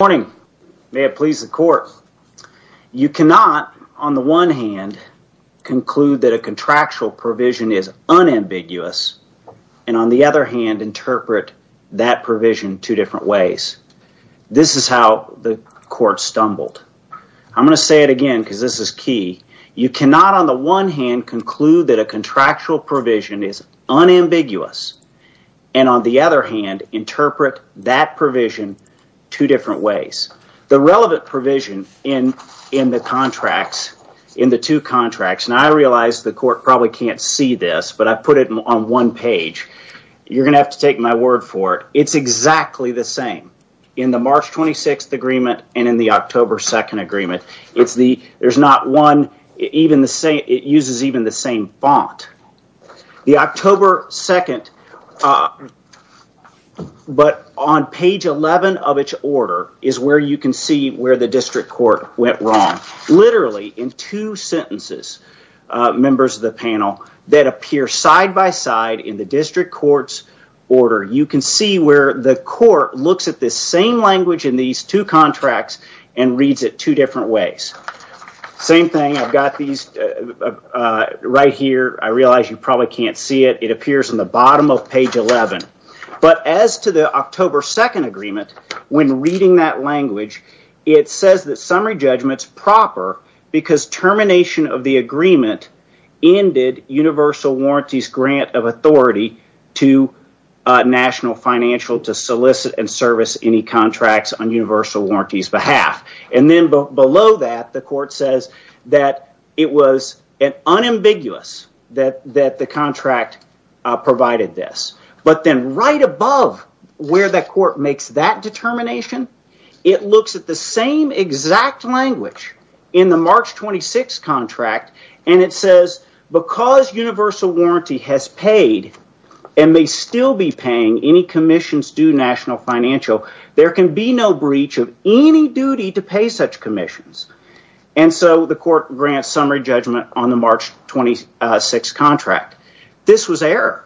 May it please the court. You cannot on the one hand conclude that a contractual provision is unambiguous and on the other hand interpret that provision two different ways. This is how the court stumbled. I'm going to say it again because this is key. You cannot on the one hand conclude that a contractual provision is unambiguous and on the other hand interpret that provision two ways. The relevant provision in the two contracts, and I realize the court probably can't see this but I put it on one page. You're going to have to take my word for it. It's exactly the same in the March 26th agreement and in the October 2nd agreement. It uses even the same font. The is where you can see where the district court went wrong. Literally in two sentences, members of the panel, that appear side-by-side in the district court's order. You can see where the court looks at this same language in these two contracts and reads it two different ways. Same thing, I've got these right here. I realize you probably can't see it. It appears in the bottom of page 11. As to the October 2nd agreement, when reading that language, it says that summary judgment is proper because termination of the agreement ended Universal Warranty's grant of authority to National Financial to solicit and service any contracts on Universal Warranty's behalf. Then below that, the court says that it was unambiguous that the contract provided this. Then right above where the court makes that determination, it looks at the same exact language in the March 26th contract and it says, because Universal Warranty has paid and may still be paying any commissions due National Financial, there can be no breach of any duty to pay such commissions. The court grants summary judgment on the March 26th contract. This was error.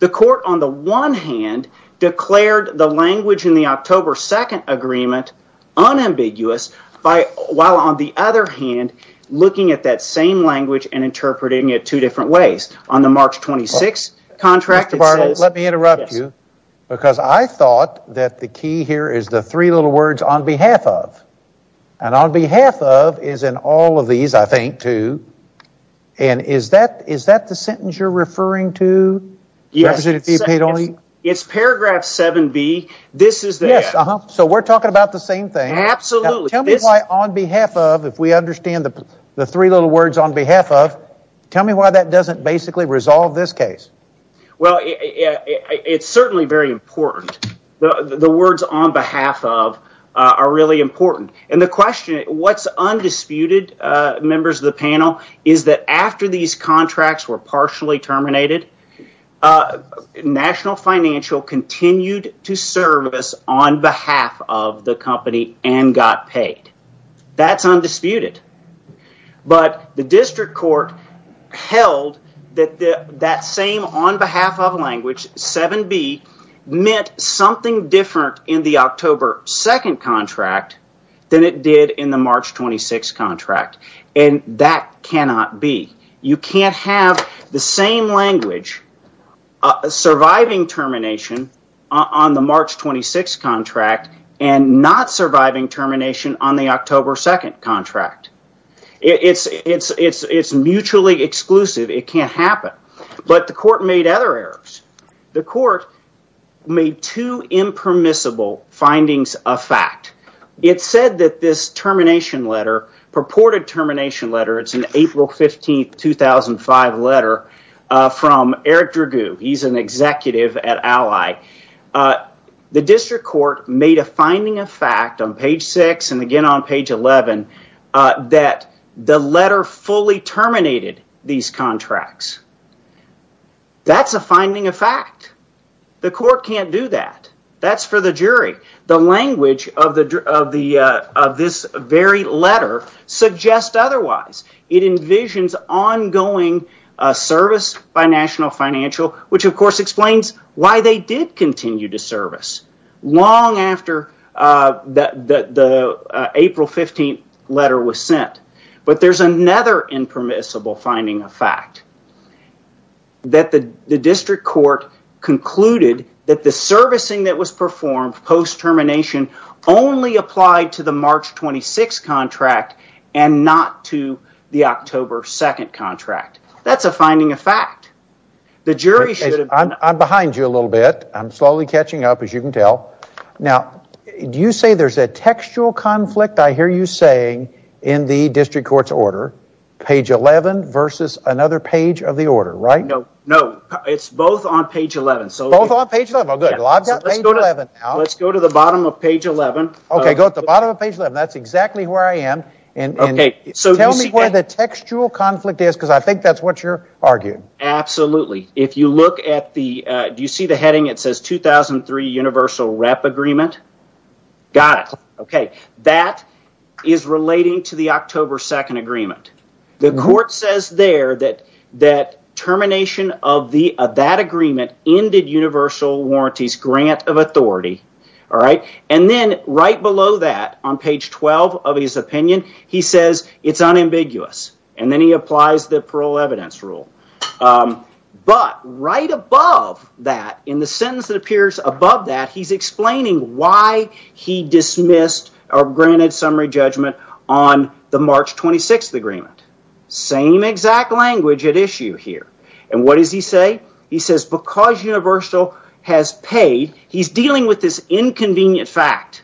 The court, on the one hand, declared the language in the October 2nd agreement unambiguous while, on the other hand, looking at that same language and interpreting it two different ways. On the March 26th contract, it says... Mr. Bartlett, let me interrupt you because I thought that the key here is the three little words, on behalf of. And on behalf of is in all of these, I think, two. And is that the sentence you're referring to? Yes. It's paragraph 7B. This is the... Yes. So we're talking about the same thing. Absolutely. Tell me why on behalf of, if we understand the three little words on behalf of, tell me why that doesn't basically resolve this case. Well, it's certainly very important. The words on behalf of are really important. And the question, what's undisputed, members of the panel, is that after these contracts were partially terminated, National Financial continued to service on behalf of the company and got paid. That's undisputed. But the district court held that that same on behalf of language, 7B, meant something different in the October 2nd contract than it did in the March 26th contract. And that cannot be. You can't have the same language surviving termination on the March 26th contract and not surviving termination on the October 2nd contract. It's mutually exclusive. It can't findings of fact. It said that this termination letter, purported termination letter, it's an April 15th, 2005 letter from Eric Dragoo. He's an executive at Ally. The district court made a finding of fact on page 6 and again on page 11 that the letter fully terminated these contracts. That's a finding of fact. The court can't do that. That's for the jury. The language of this very letter suggests otherwise. It envisions ongoing service by National Financial, which of course explains why they did continue to service long after the April 15th letter was sent. But there's another impermissible finding of fact. That the district court concluded that the servicing that was performed post termination only applied to the March 26th contract and not to the October 2nd contract. That's a finding of fact. The jury should have... I'm behind you a little bit. I'm slowly catching up as you can order. Page 11 versus another page of the order, right? No. It's both on page 11. Let's go to the bottom of page 11. Go to the bottom of page 11. That's exactly where I am. Tell me where the textual conflict is because I think that's what you're arguing. Absolutely. If you look at the... Do you see the heading that says 2003 universal rep agreement? Got it. That is relating to the October 2nd agreement. The court says there that termination of that agreement ended universal warranties grant of authority. Then right below that, on page 12 of his opinion, he says it's unambiguous. Then he applies the parole he dismissed or granted summary judgment on the March 26th agreement. Same exact language at issue here. What does he say? He says because universal has paid, he's dealing with this inconvenient fact.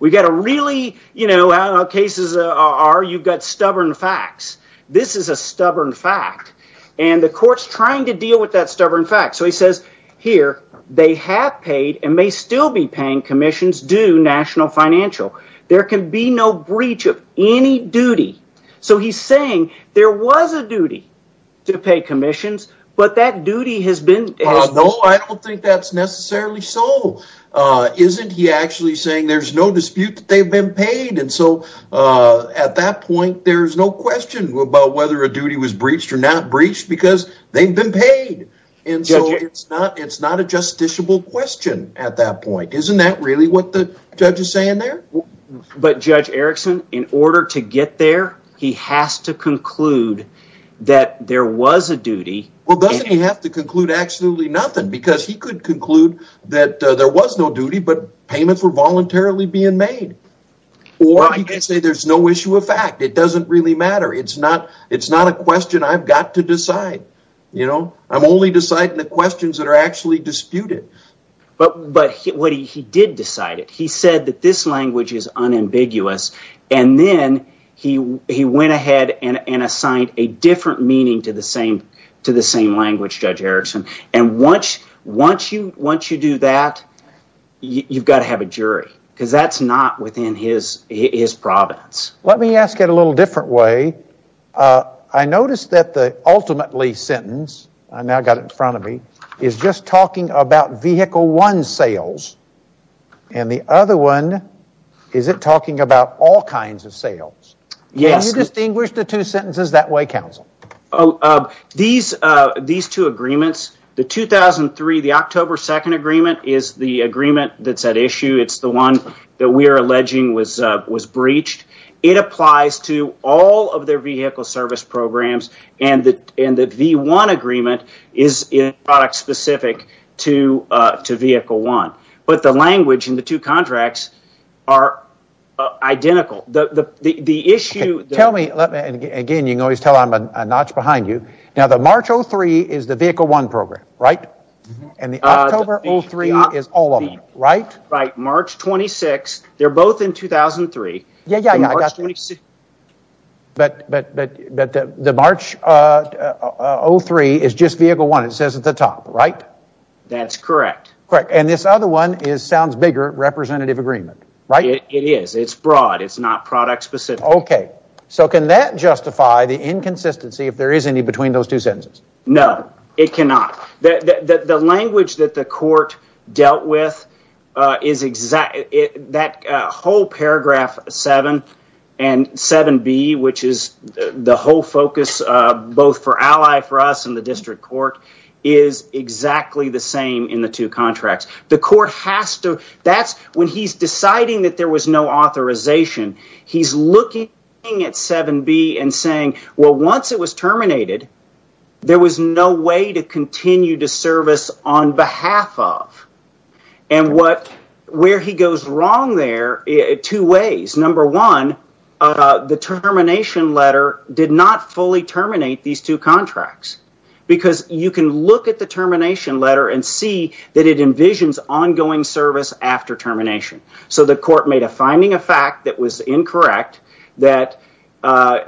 We got a really... I don't know how cases are. You've got stubborn facts. This is a stubborn fact. The court's trying to deal with that stubborn fact. He says, here, they have paid and may still be paying commissions due to national financial. There can be no breach of any duty. He's saying there was a duty to pay commissions, but that duty has been... No, I don't think that's necessarily so. Isn't he actually saying there's no dispute that they've been paid? At that point, there's no question about whether a duty was breached or not breached because they've been paid. It's not a justiciable question at that point. Isn't that really what the judge is saying there? But Judge Erickson, in order to get there, he has to conclude that there was a duty. Well, doesn't he have to conclude absolutely nothing because he could conclude that there was no duty, but payments were voluntarily being made. Or he could say there's no issue of fact. It doesn't really matter. It's not a question I've got to decide. I'm only deciding the questions that are actually disputed. But he did decide it. He said that this language is unambiguous. And then he went ahead and assigned a different meaning to the same language, Judge Erickson. And once you do that, you've got to have a jury because that's not within his province. Let me ask it a little different way. I noticed that the ultimately sentence, I now got it in front of me, is just talking about vehicle one sales. And the other one, is it talking about all kinds of sales? Can you distinguish the two sentences that way, counsel? These two agreements, the 2003, the October 2nd agreement is the agreement that's at issue. It's the one that we are alleging was breached. It applies to all of their vehicle service programs. And the V1 agreement is product specific to vehicle one. But the language in the two contracts are identical. The issue... Tell me, again, you can always tell I'm a notch behind you. Now, the March 03 is the vehicle one program, right? And the October 03 is all of them, right? Right. March 26. They're both in 2003. Yeah, yeah, yeah. But the March 03 is just vehicle one. It says at the top, right? That's correct. Correct. And this other one is, sounds bigger, representative agreement, right? It is. It's broad. It's not product specific. Okay. So can that justify the inconsistency if there is any between those two sentences? No, it cannot. The language that the court dealt with, that whole paragraph 7 and 7B, which is the whole focus, both for Ally for us and the district court, is exactly the same in the two contracts. The court has to... That's when he's deciding that there was no authorization. He's looking at 7B and saying, well, once it was And where he goes wrong there, two ways. Number one, the termination letter did not fully terminate these two contracts. Because you can look at the termination letter and see that it envisions ongoing service after termination. So the court made a finding of fact that was incorrect, that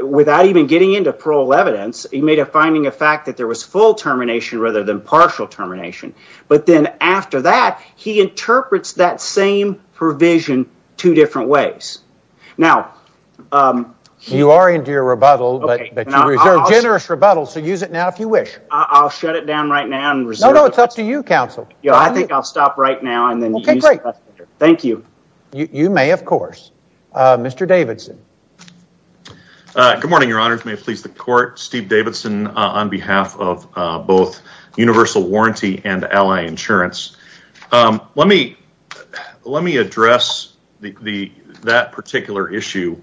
without even getting into parole evidence, he made a finding of fact that there was full termination rather than partial termination. But then after that, he interprets that same provision two different ways. Now... You are into your rebuttal, but you reserve generous rebuttal, so use it now if you wish. I'll shut it down right now and reserve... No, no, it's up to you, counsel. Yeah, I think I'll stop right now and then... Okay, great. Thank you. You may, of course. Mr. Davidson. Good morning, your honors. May it please the court. Steve Davidson on behalf of both Universal Warranty and Ally Insurance. Let me address that particular issue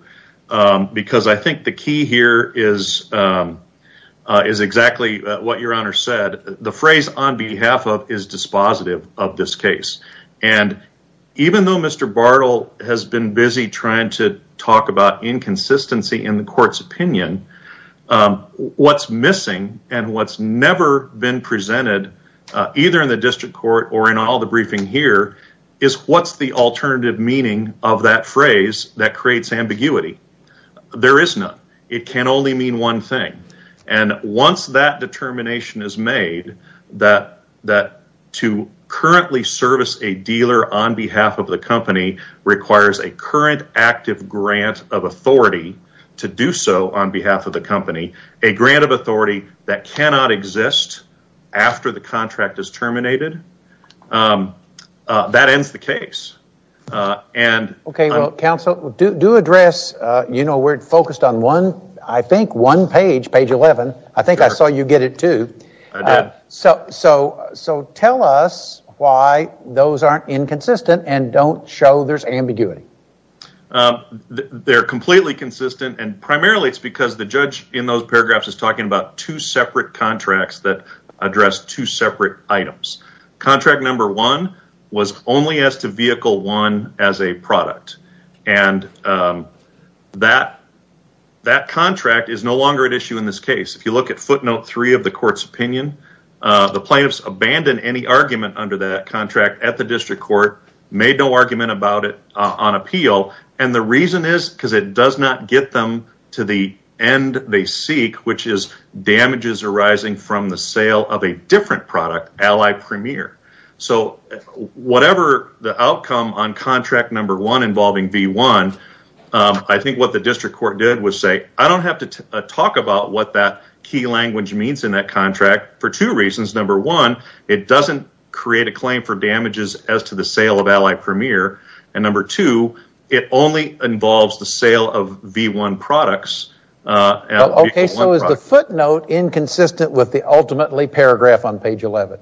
because I think the key here is exactly what your honor said. The phrase on behalf of is dispositive of this case. And even though Mr. Bartle has been busy trying to talk about inconsistency in the court's opinion, what's missing and what's never been presented either in the district court or in all the briefing here is what's the alternative meaning of that phrase that creates ambiguity. There is none. It can only mean one thing. And once that determination is that to currently service a dealer on behalf of the company requires a current active grant of authority to do so on behalf of the company, a grant of authority that cannot exist after the contract is terminated, that ends the case. Okay, well, counsel, do address, you know, we're so tell us why those aren't inconsistent and don't show there's ambiguity. They're completely consistent, and primarily it's because the judge in those paragraphs is talking about two separate contracts that address two separate items. Contract number one was only as to vehicle one as a product. And that contract is no longer at issue in this case. If you look at footnote three of the court's opinion, the plaintiffs abandoned any argument under that contract at the district court, made no argument about it on appeal, and the reason is because it does not get them to the end they seek, which is damages arising from the sale of a different product, Ally Premier. So whatever the outcome on contract number one involving V1, I think what that key language means in that contract for two reasons. Number one, it doesn't create a claim for damages as to the sale of Ally Premier, and number two, it only involves the sale of V1 products. Okay, so is the footnote inconsistent with the ultimately paragraph on page 11?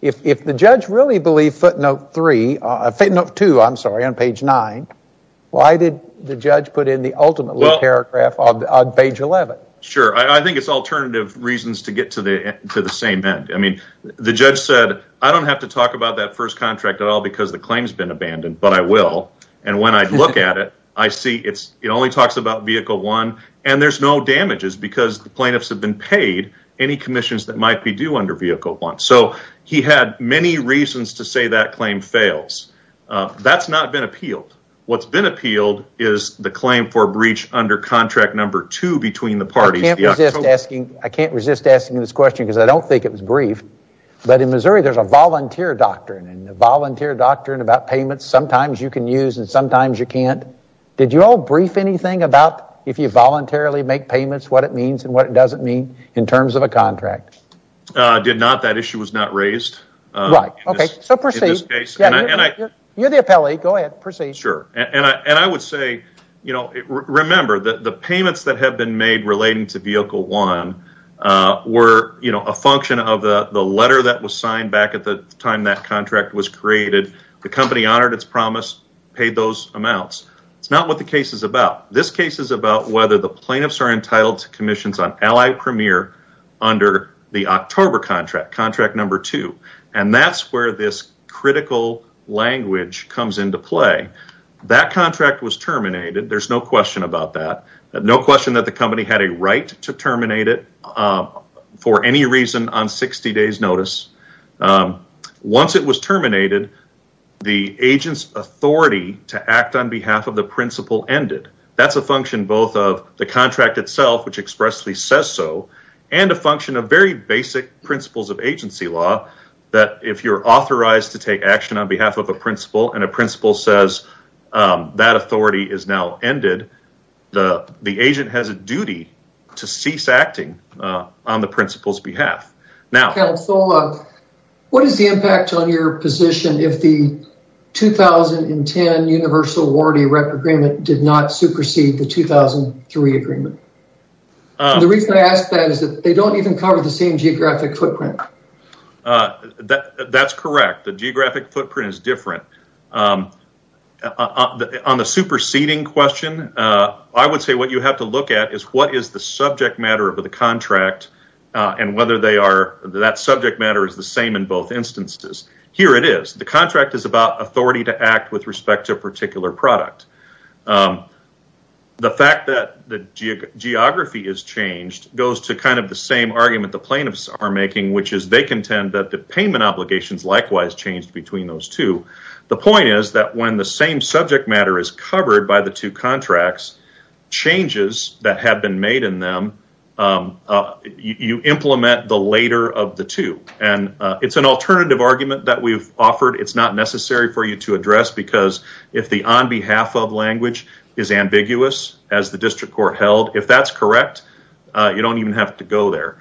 If the judge really believed footnote three, footnote two, I'm sorry, on page nine, why did the judge put in the ultimately paragraph on page 11? Sure. I think it's alternative reasons to get to the same end. I mean, the judge said, I don't have to talk about that first contract at all because the claim has been abandoned, but I will. And when I look at it, I see it only talks about vehicle one, and there's no damages because the plaintiffs have been paid any commissions that might be due under vehicle one. He had many reasons to say that claim fails. That's not been appealed. What's been appealed is the claim for breach under contract number two between the parties. I can't resist asking this question because I don't think it was brief, but in Missouri, there's a volunteer doctrine, and a volunteer doctrine about payments sometimes you can use and sometimes you can't. Did you all brief anything about if you voluntarily make payments, what it means and what it doesn't mean in terms of a contract? Did not. That issue was not raised. Right. Okay. So proceed. You're the appellee. Go ahead. Proceed. Sure. And I would say, remember, the payments that have been made relating to vehicle one were a function of the letter that was signed back at the time that contract was created. The company honored its promise, paid those amounts. It's not what the case is about. This case is about whether the plaintiffs are entitled to commissions on Allied Premier under the October contract, contract number two. And that's where this critical language comes into play. That contract was terminated. There's no question about that. No question that the company had a right to terminate it for any reason on 60 days notice. Once it was terminated, the agent's authority to act on behalf of the principal ended. That's a function both of the contract itself, which expressly says so, and a function of very basic principles of agency law that if you're authorized to take action on behalf of a principal and a principal says that authority is now ended, the agent has a duty to cease acting on the principal's behalf. Now, Councilor, what is the impact on your position if the 2010 Universal Warranty Agreement did not supersede the 2003 agreement? The reason I ask that is that they don't even cover the same geographic footprint. That's correct. The geographic footprint is different. On the superseding question, I would say what you have to look at is what is the subject matter of the contract and whether that subject matter is the same in both instances. Here it is. The fact that the geography is changed goes to the same argument the plaintiffs are making, which is they contend that the payment obligations likewise changed between those two. The point is that when the same subject matter is covered by the two contracts, changes that have been made in them, you implement the later of the two. It's an alternative argument that we've offered. It's not necessary for you to address because if the on behalf of language is ambiguous, as the district court held, if that's correct, you don't even have to go there.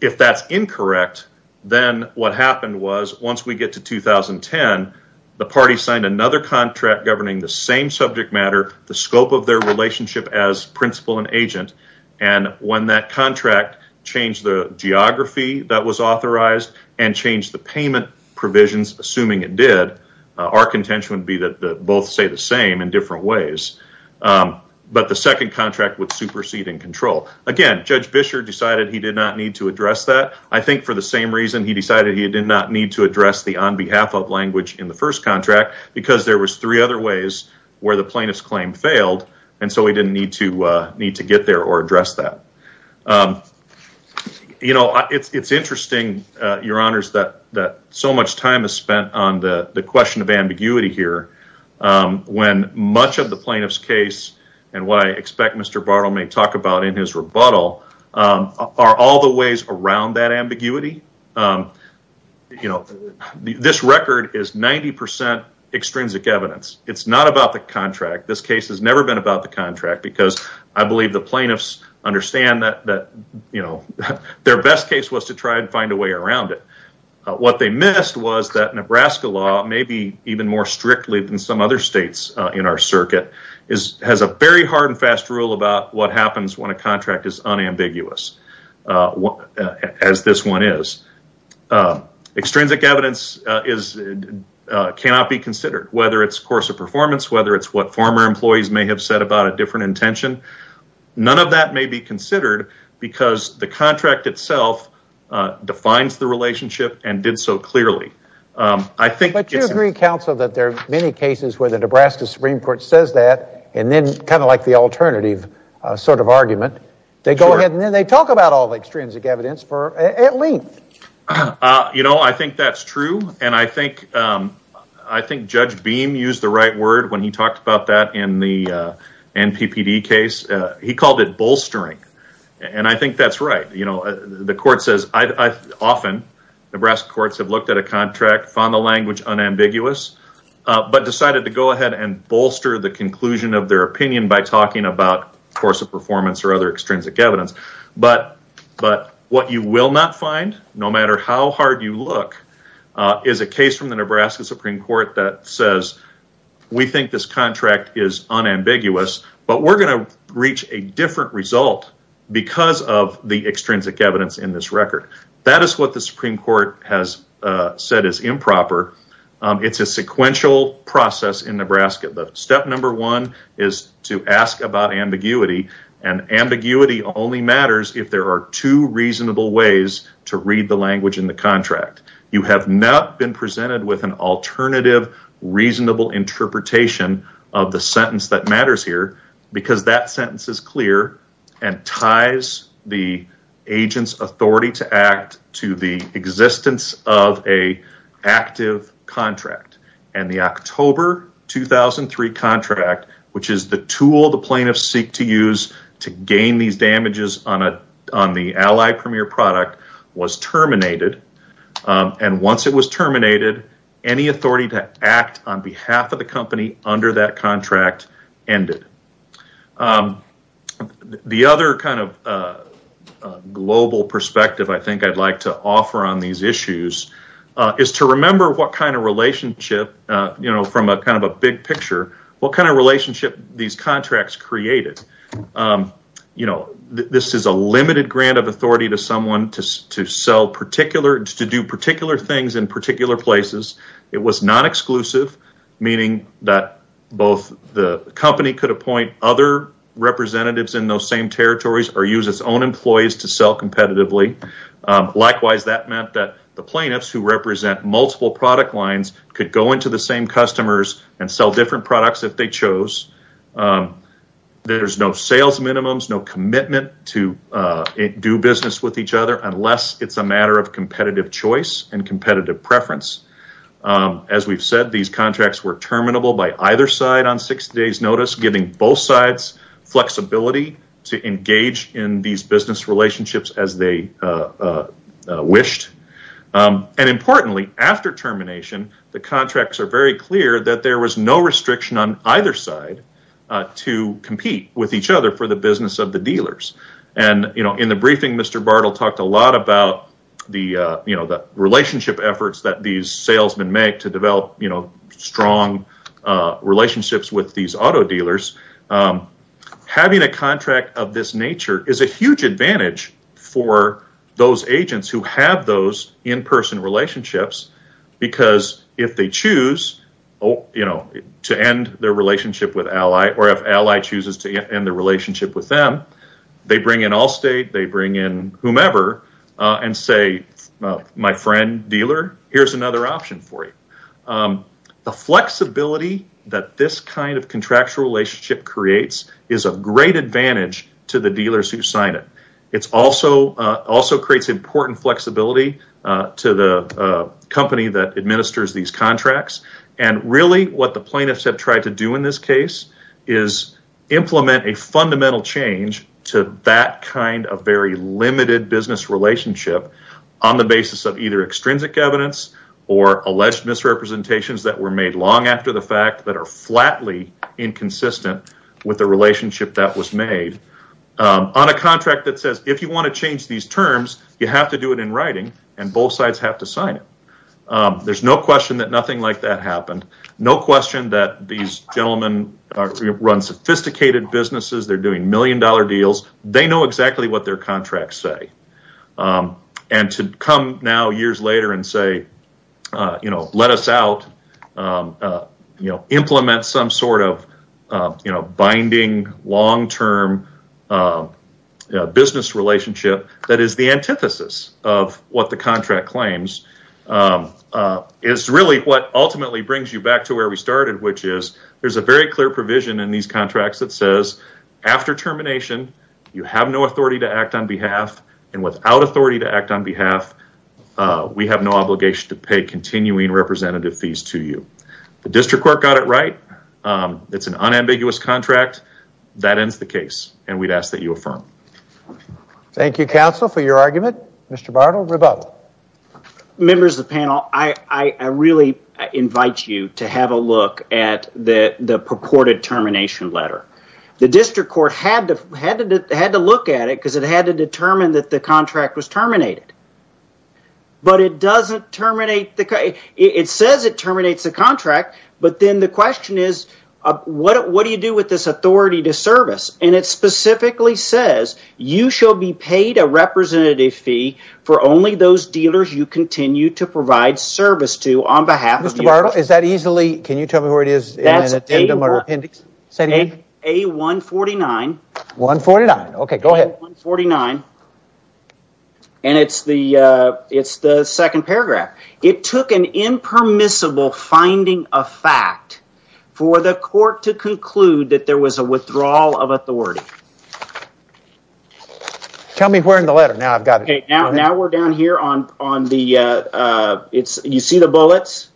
If that's incorrect, then what happened was once we get to 2010, the party signed another contract governing the same subject matter, the scope of their relationship as principal and agent, and when that contract changed the geography that was authorized and changed the payment provisions, assuming it did, our contention would be that both say the same in different ways. But the second contract would supersede in control. Again, Judge Bisher decided he did not need to address that. I think for the same reason he decided he did not need to address the on behalf of language in the first contract because there was three other ways where the plaintiff's claim failed, and so he didn't need to get there or address that. It's interesting, your honors, that so much time is spent on the question of ambiguity here when much of the plaintiff's case and what I expect Mr. Bartle may talk about in his rebuttal are all the ways around that ambiguity. This record is 90% extrinsic evidence. It's not about the contract. This case has never been about the contract because I believe the plaintiffs understand that their best case was to try and find a way around it. What they missed was that Nebraska law may be even more strictly than some other states in our circuit has a very hard and fast rule about what happens when a contract is unambiguous, as this one is. Extrinsic evidence cannot be considered, whether it's course of performance, whether it's what former employees may have said about a different intention. None of that may be considered because the contract itself defines the relationship and did so clearly. But you agree, counsel, that there are many cases where the Nebraska Supreme Court says that and then kind of like the alternative sort of argument, they go ahead and then they talk about all the extrinsic evidence at length. You know, I think that's true, and I think Judge Beam used the right word when he talked about that in the NPPD case. He called it bolstering, and I think that's right. You know, the court says often Nebraska courts have looked at a contract, found the language unambiguous, but decided to go ahead and bolster the conclusion of their opinion by talking about course of performance or other extrinsic evidence. But what you will not find, no matter how hard you look, is a case from the Nebraska Supreme Court that says we think this contract is unambiguous, but we're going to reach a different result because of the extrinsic evidence in this record. That is what the Supreme Court has said is improper. It's a sequential process in Nebraska. Step number one is to ask about ambiguity, and ambiguity only matters if there are two have not been presented with an alternative reasonable interpretation of the sentence that matters here, because that sentence is clear and ties the agent's authority to act to the existence of an active contract, and the October 2003 contract, which is the tool the plaintiffs seek to use to gain these damages on the Allied Premier product, was terminated, and once it was terminated, any authority to act on behalf of the company under that contract ended. The other kind of global perspective I think I'd like to offer on these issues is to remember what kind of relationship, you know, from kind of a big picture, what kind of relationship these contracts created. You know, this is a limited grant of authority to someone to sell particular, to do particular things in particular places. It was not exclusive, meaning that both the company could appoint other representatives in those same territories or use its own employees to sell competitively. Likewise, that meant that the plaintiffs who represent multiple product lines could go into the same customers and sell different products if they chose. There's no sales minimums, no commitment to do business with each other unless it's a matter of competitive choice and competitive preference. As we've said, these contracts were terminable by either side on 60 days' notice, giving both sides flexibility to engage in these relationships as they wished. And importantly, after termination, the contracts are very clear that there was no restriction on either side to compete with each other for the business of the dealers. In the briefing, Mr. Bartle talked a lot about the relationship efforts that these salesmen make to develop strong relationships with these auto dealers. Having a contract of this nature is a huge advantage for those agents who have those in-person relationships because if they choose to end their relationship with Ally or if Ally chooses to end the relationship with them, they bring in Allstate, they bring in whomever and say, my friend dealer, here's another option for you. The flexibility that this kind of contractual relationship creates is a great advantage to the dealers who sign it. It also creates important flexibility to the company that administers these contracts. And really what the plaintiffs have tried to do in this case is implement a fundamental change to that kind of very limited business relationship on the basis of either extrinsic evidence or alleged misrepresentations that were made long after the fact that are flatly inconsistent with the relationship that was made on a contract that says if you want to change these terms, you have to do it in writing and both sides have to sign it. There's no question that nothing like that happened. No question that these gentlemen run sophisticated businesses. They're doing million-dollar deals. They know exactly what their contracts say. And to come now years later and say, let us out, implement some sort of binding long-term business relationship that is the antithesis of what the contract claims is really what ultimately brings you back to where we started, which is there's a very clear provision in these contracts that says after termination, you have no authority to act on behalf and without authority to act on behalf, we have no obligation to pay continuing representative fees to you. The district court got it right. It's an unambiguous contract. That ends the case. And we'd ask that you affirm. Thank you, counsel, for your argument. Mr. Bartle, rebuttal. Members of the panel, I really invite you to have a look at the purported termination letter. The district court had to look at it because it had to determine that the contract was terminated. But it doesn't terminate the it says it terminates the contract, but then the question is, what do you do with this authority to service? And it specifically says you shall be paid a representative fee for only those dealers you continue to provide service to on behalf. Mr. Bartle, is that easily can you tell me where it is in an addendum or appendix? Say it again. A149. 149. OK, go ahead. 149. And it's the it's the second paragraph. It took an impermissible finding of fact for the court to conclude that there was a withdrawal of authority. OK, tell me where in the letter now I've got it. Now we're down here on on the it's you see the bullets.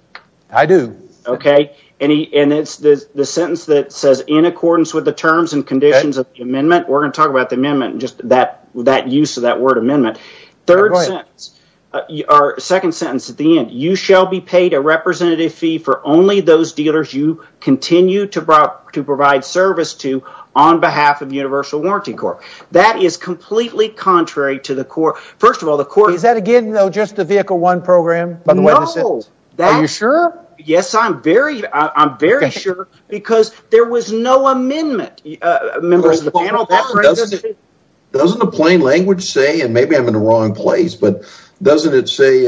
I do. OK. And it's the sentence that says in accordance with the terms and conditions of the amendment, we're going to talk about the amendment and just that that use of that word amendment. Third sentence, our second sentence at the end, you shall be paid a representative fee for only those dealers you continue to provide to provide service to on behalf of Universal Warranty Corp. That is completely contrary to the court. First of all, the court. Is that again, though, just a vehicle one program? No. Are you sure? Yes, I'm very I'm very sure because there was no amendment. Members of the panel. Doesn't a plain language say and maybe I'm in the wrong place, but doesn't it say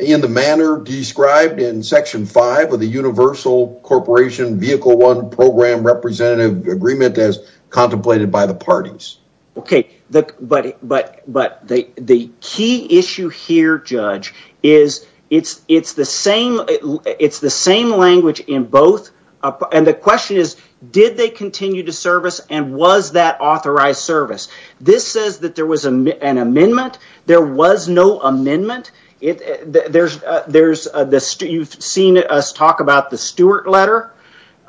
in the manner described in Section five of the Universal Corporation Vehicle One Program representative agreement as contemplated by the parties? OK, but but but the the key issue here, Judge, is it's it's the same. It's the same language in both. And the question is, did they continue to service and was that authorized service? This says that there was an amendment. There was no amendment. There's there's this. You've seen us talk about the Stewart letter.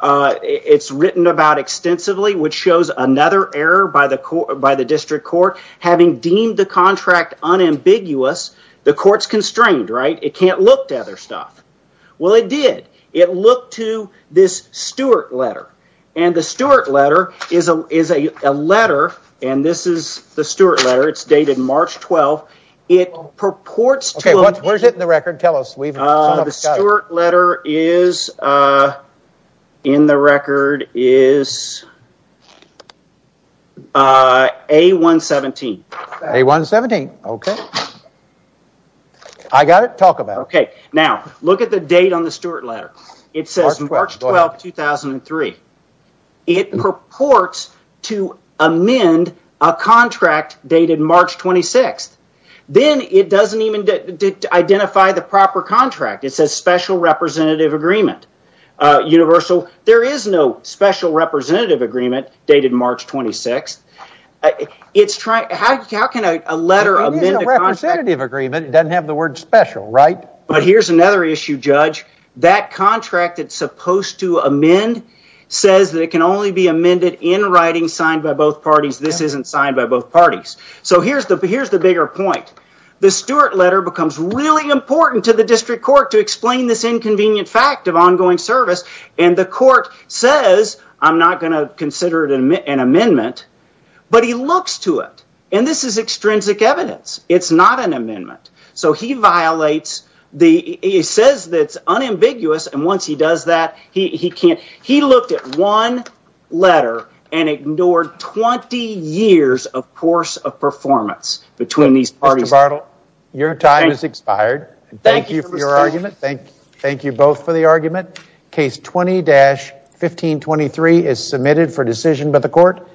It's written about extensively, which shows another error by the court by the district court. Having deemed the contract unambiguous, the court's constrained, right? It can't look to other stuff. Well, it did. It looked to this Stewart letter and the Stewart letter. It's dated March 12th. It purports to. What is it in the record? Tell us. The Stewart letter is in the record is. A117. A117. OK. I got it. Talk about OK. Now look at the date on the dated March 26th. Then it doesn't even identify the proper contract. It says special representative agreement universal. There is no special representative agreement dated March 26th. It's trying. How can a letter of representative agreement doesn't have the word special, right? But here's another issue, Judge. That contract that's supposed to amend says that can only be amended in writing signed by both parties. This isn't signed by both parties. So here's the bigger point. The Stewart letter becomes really important to the district court to explain this inconvenient fact of ongoing service. And the court says, I'm not going to consider it an amendment. But he looks to it. And this is extrinsic evidence. It's not an amendment. So he violates the it says that's unambiguous. And once he does that, he can't. He looked at one letter and ignored 20 years of course of performance between these parties. Your time is expired. Thank you for your argument. Thank you both for the argument. Case 20 dash 1523 is submitted for decision by the court.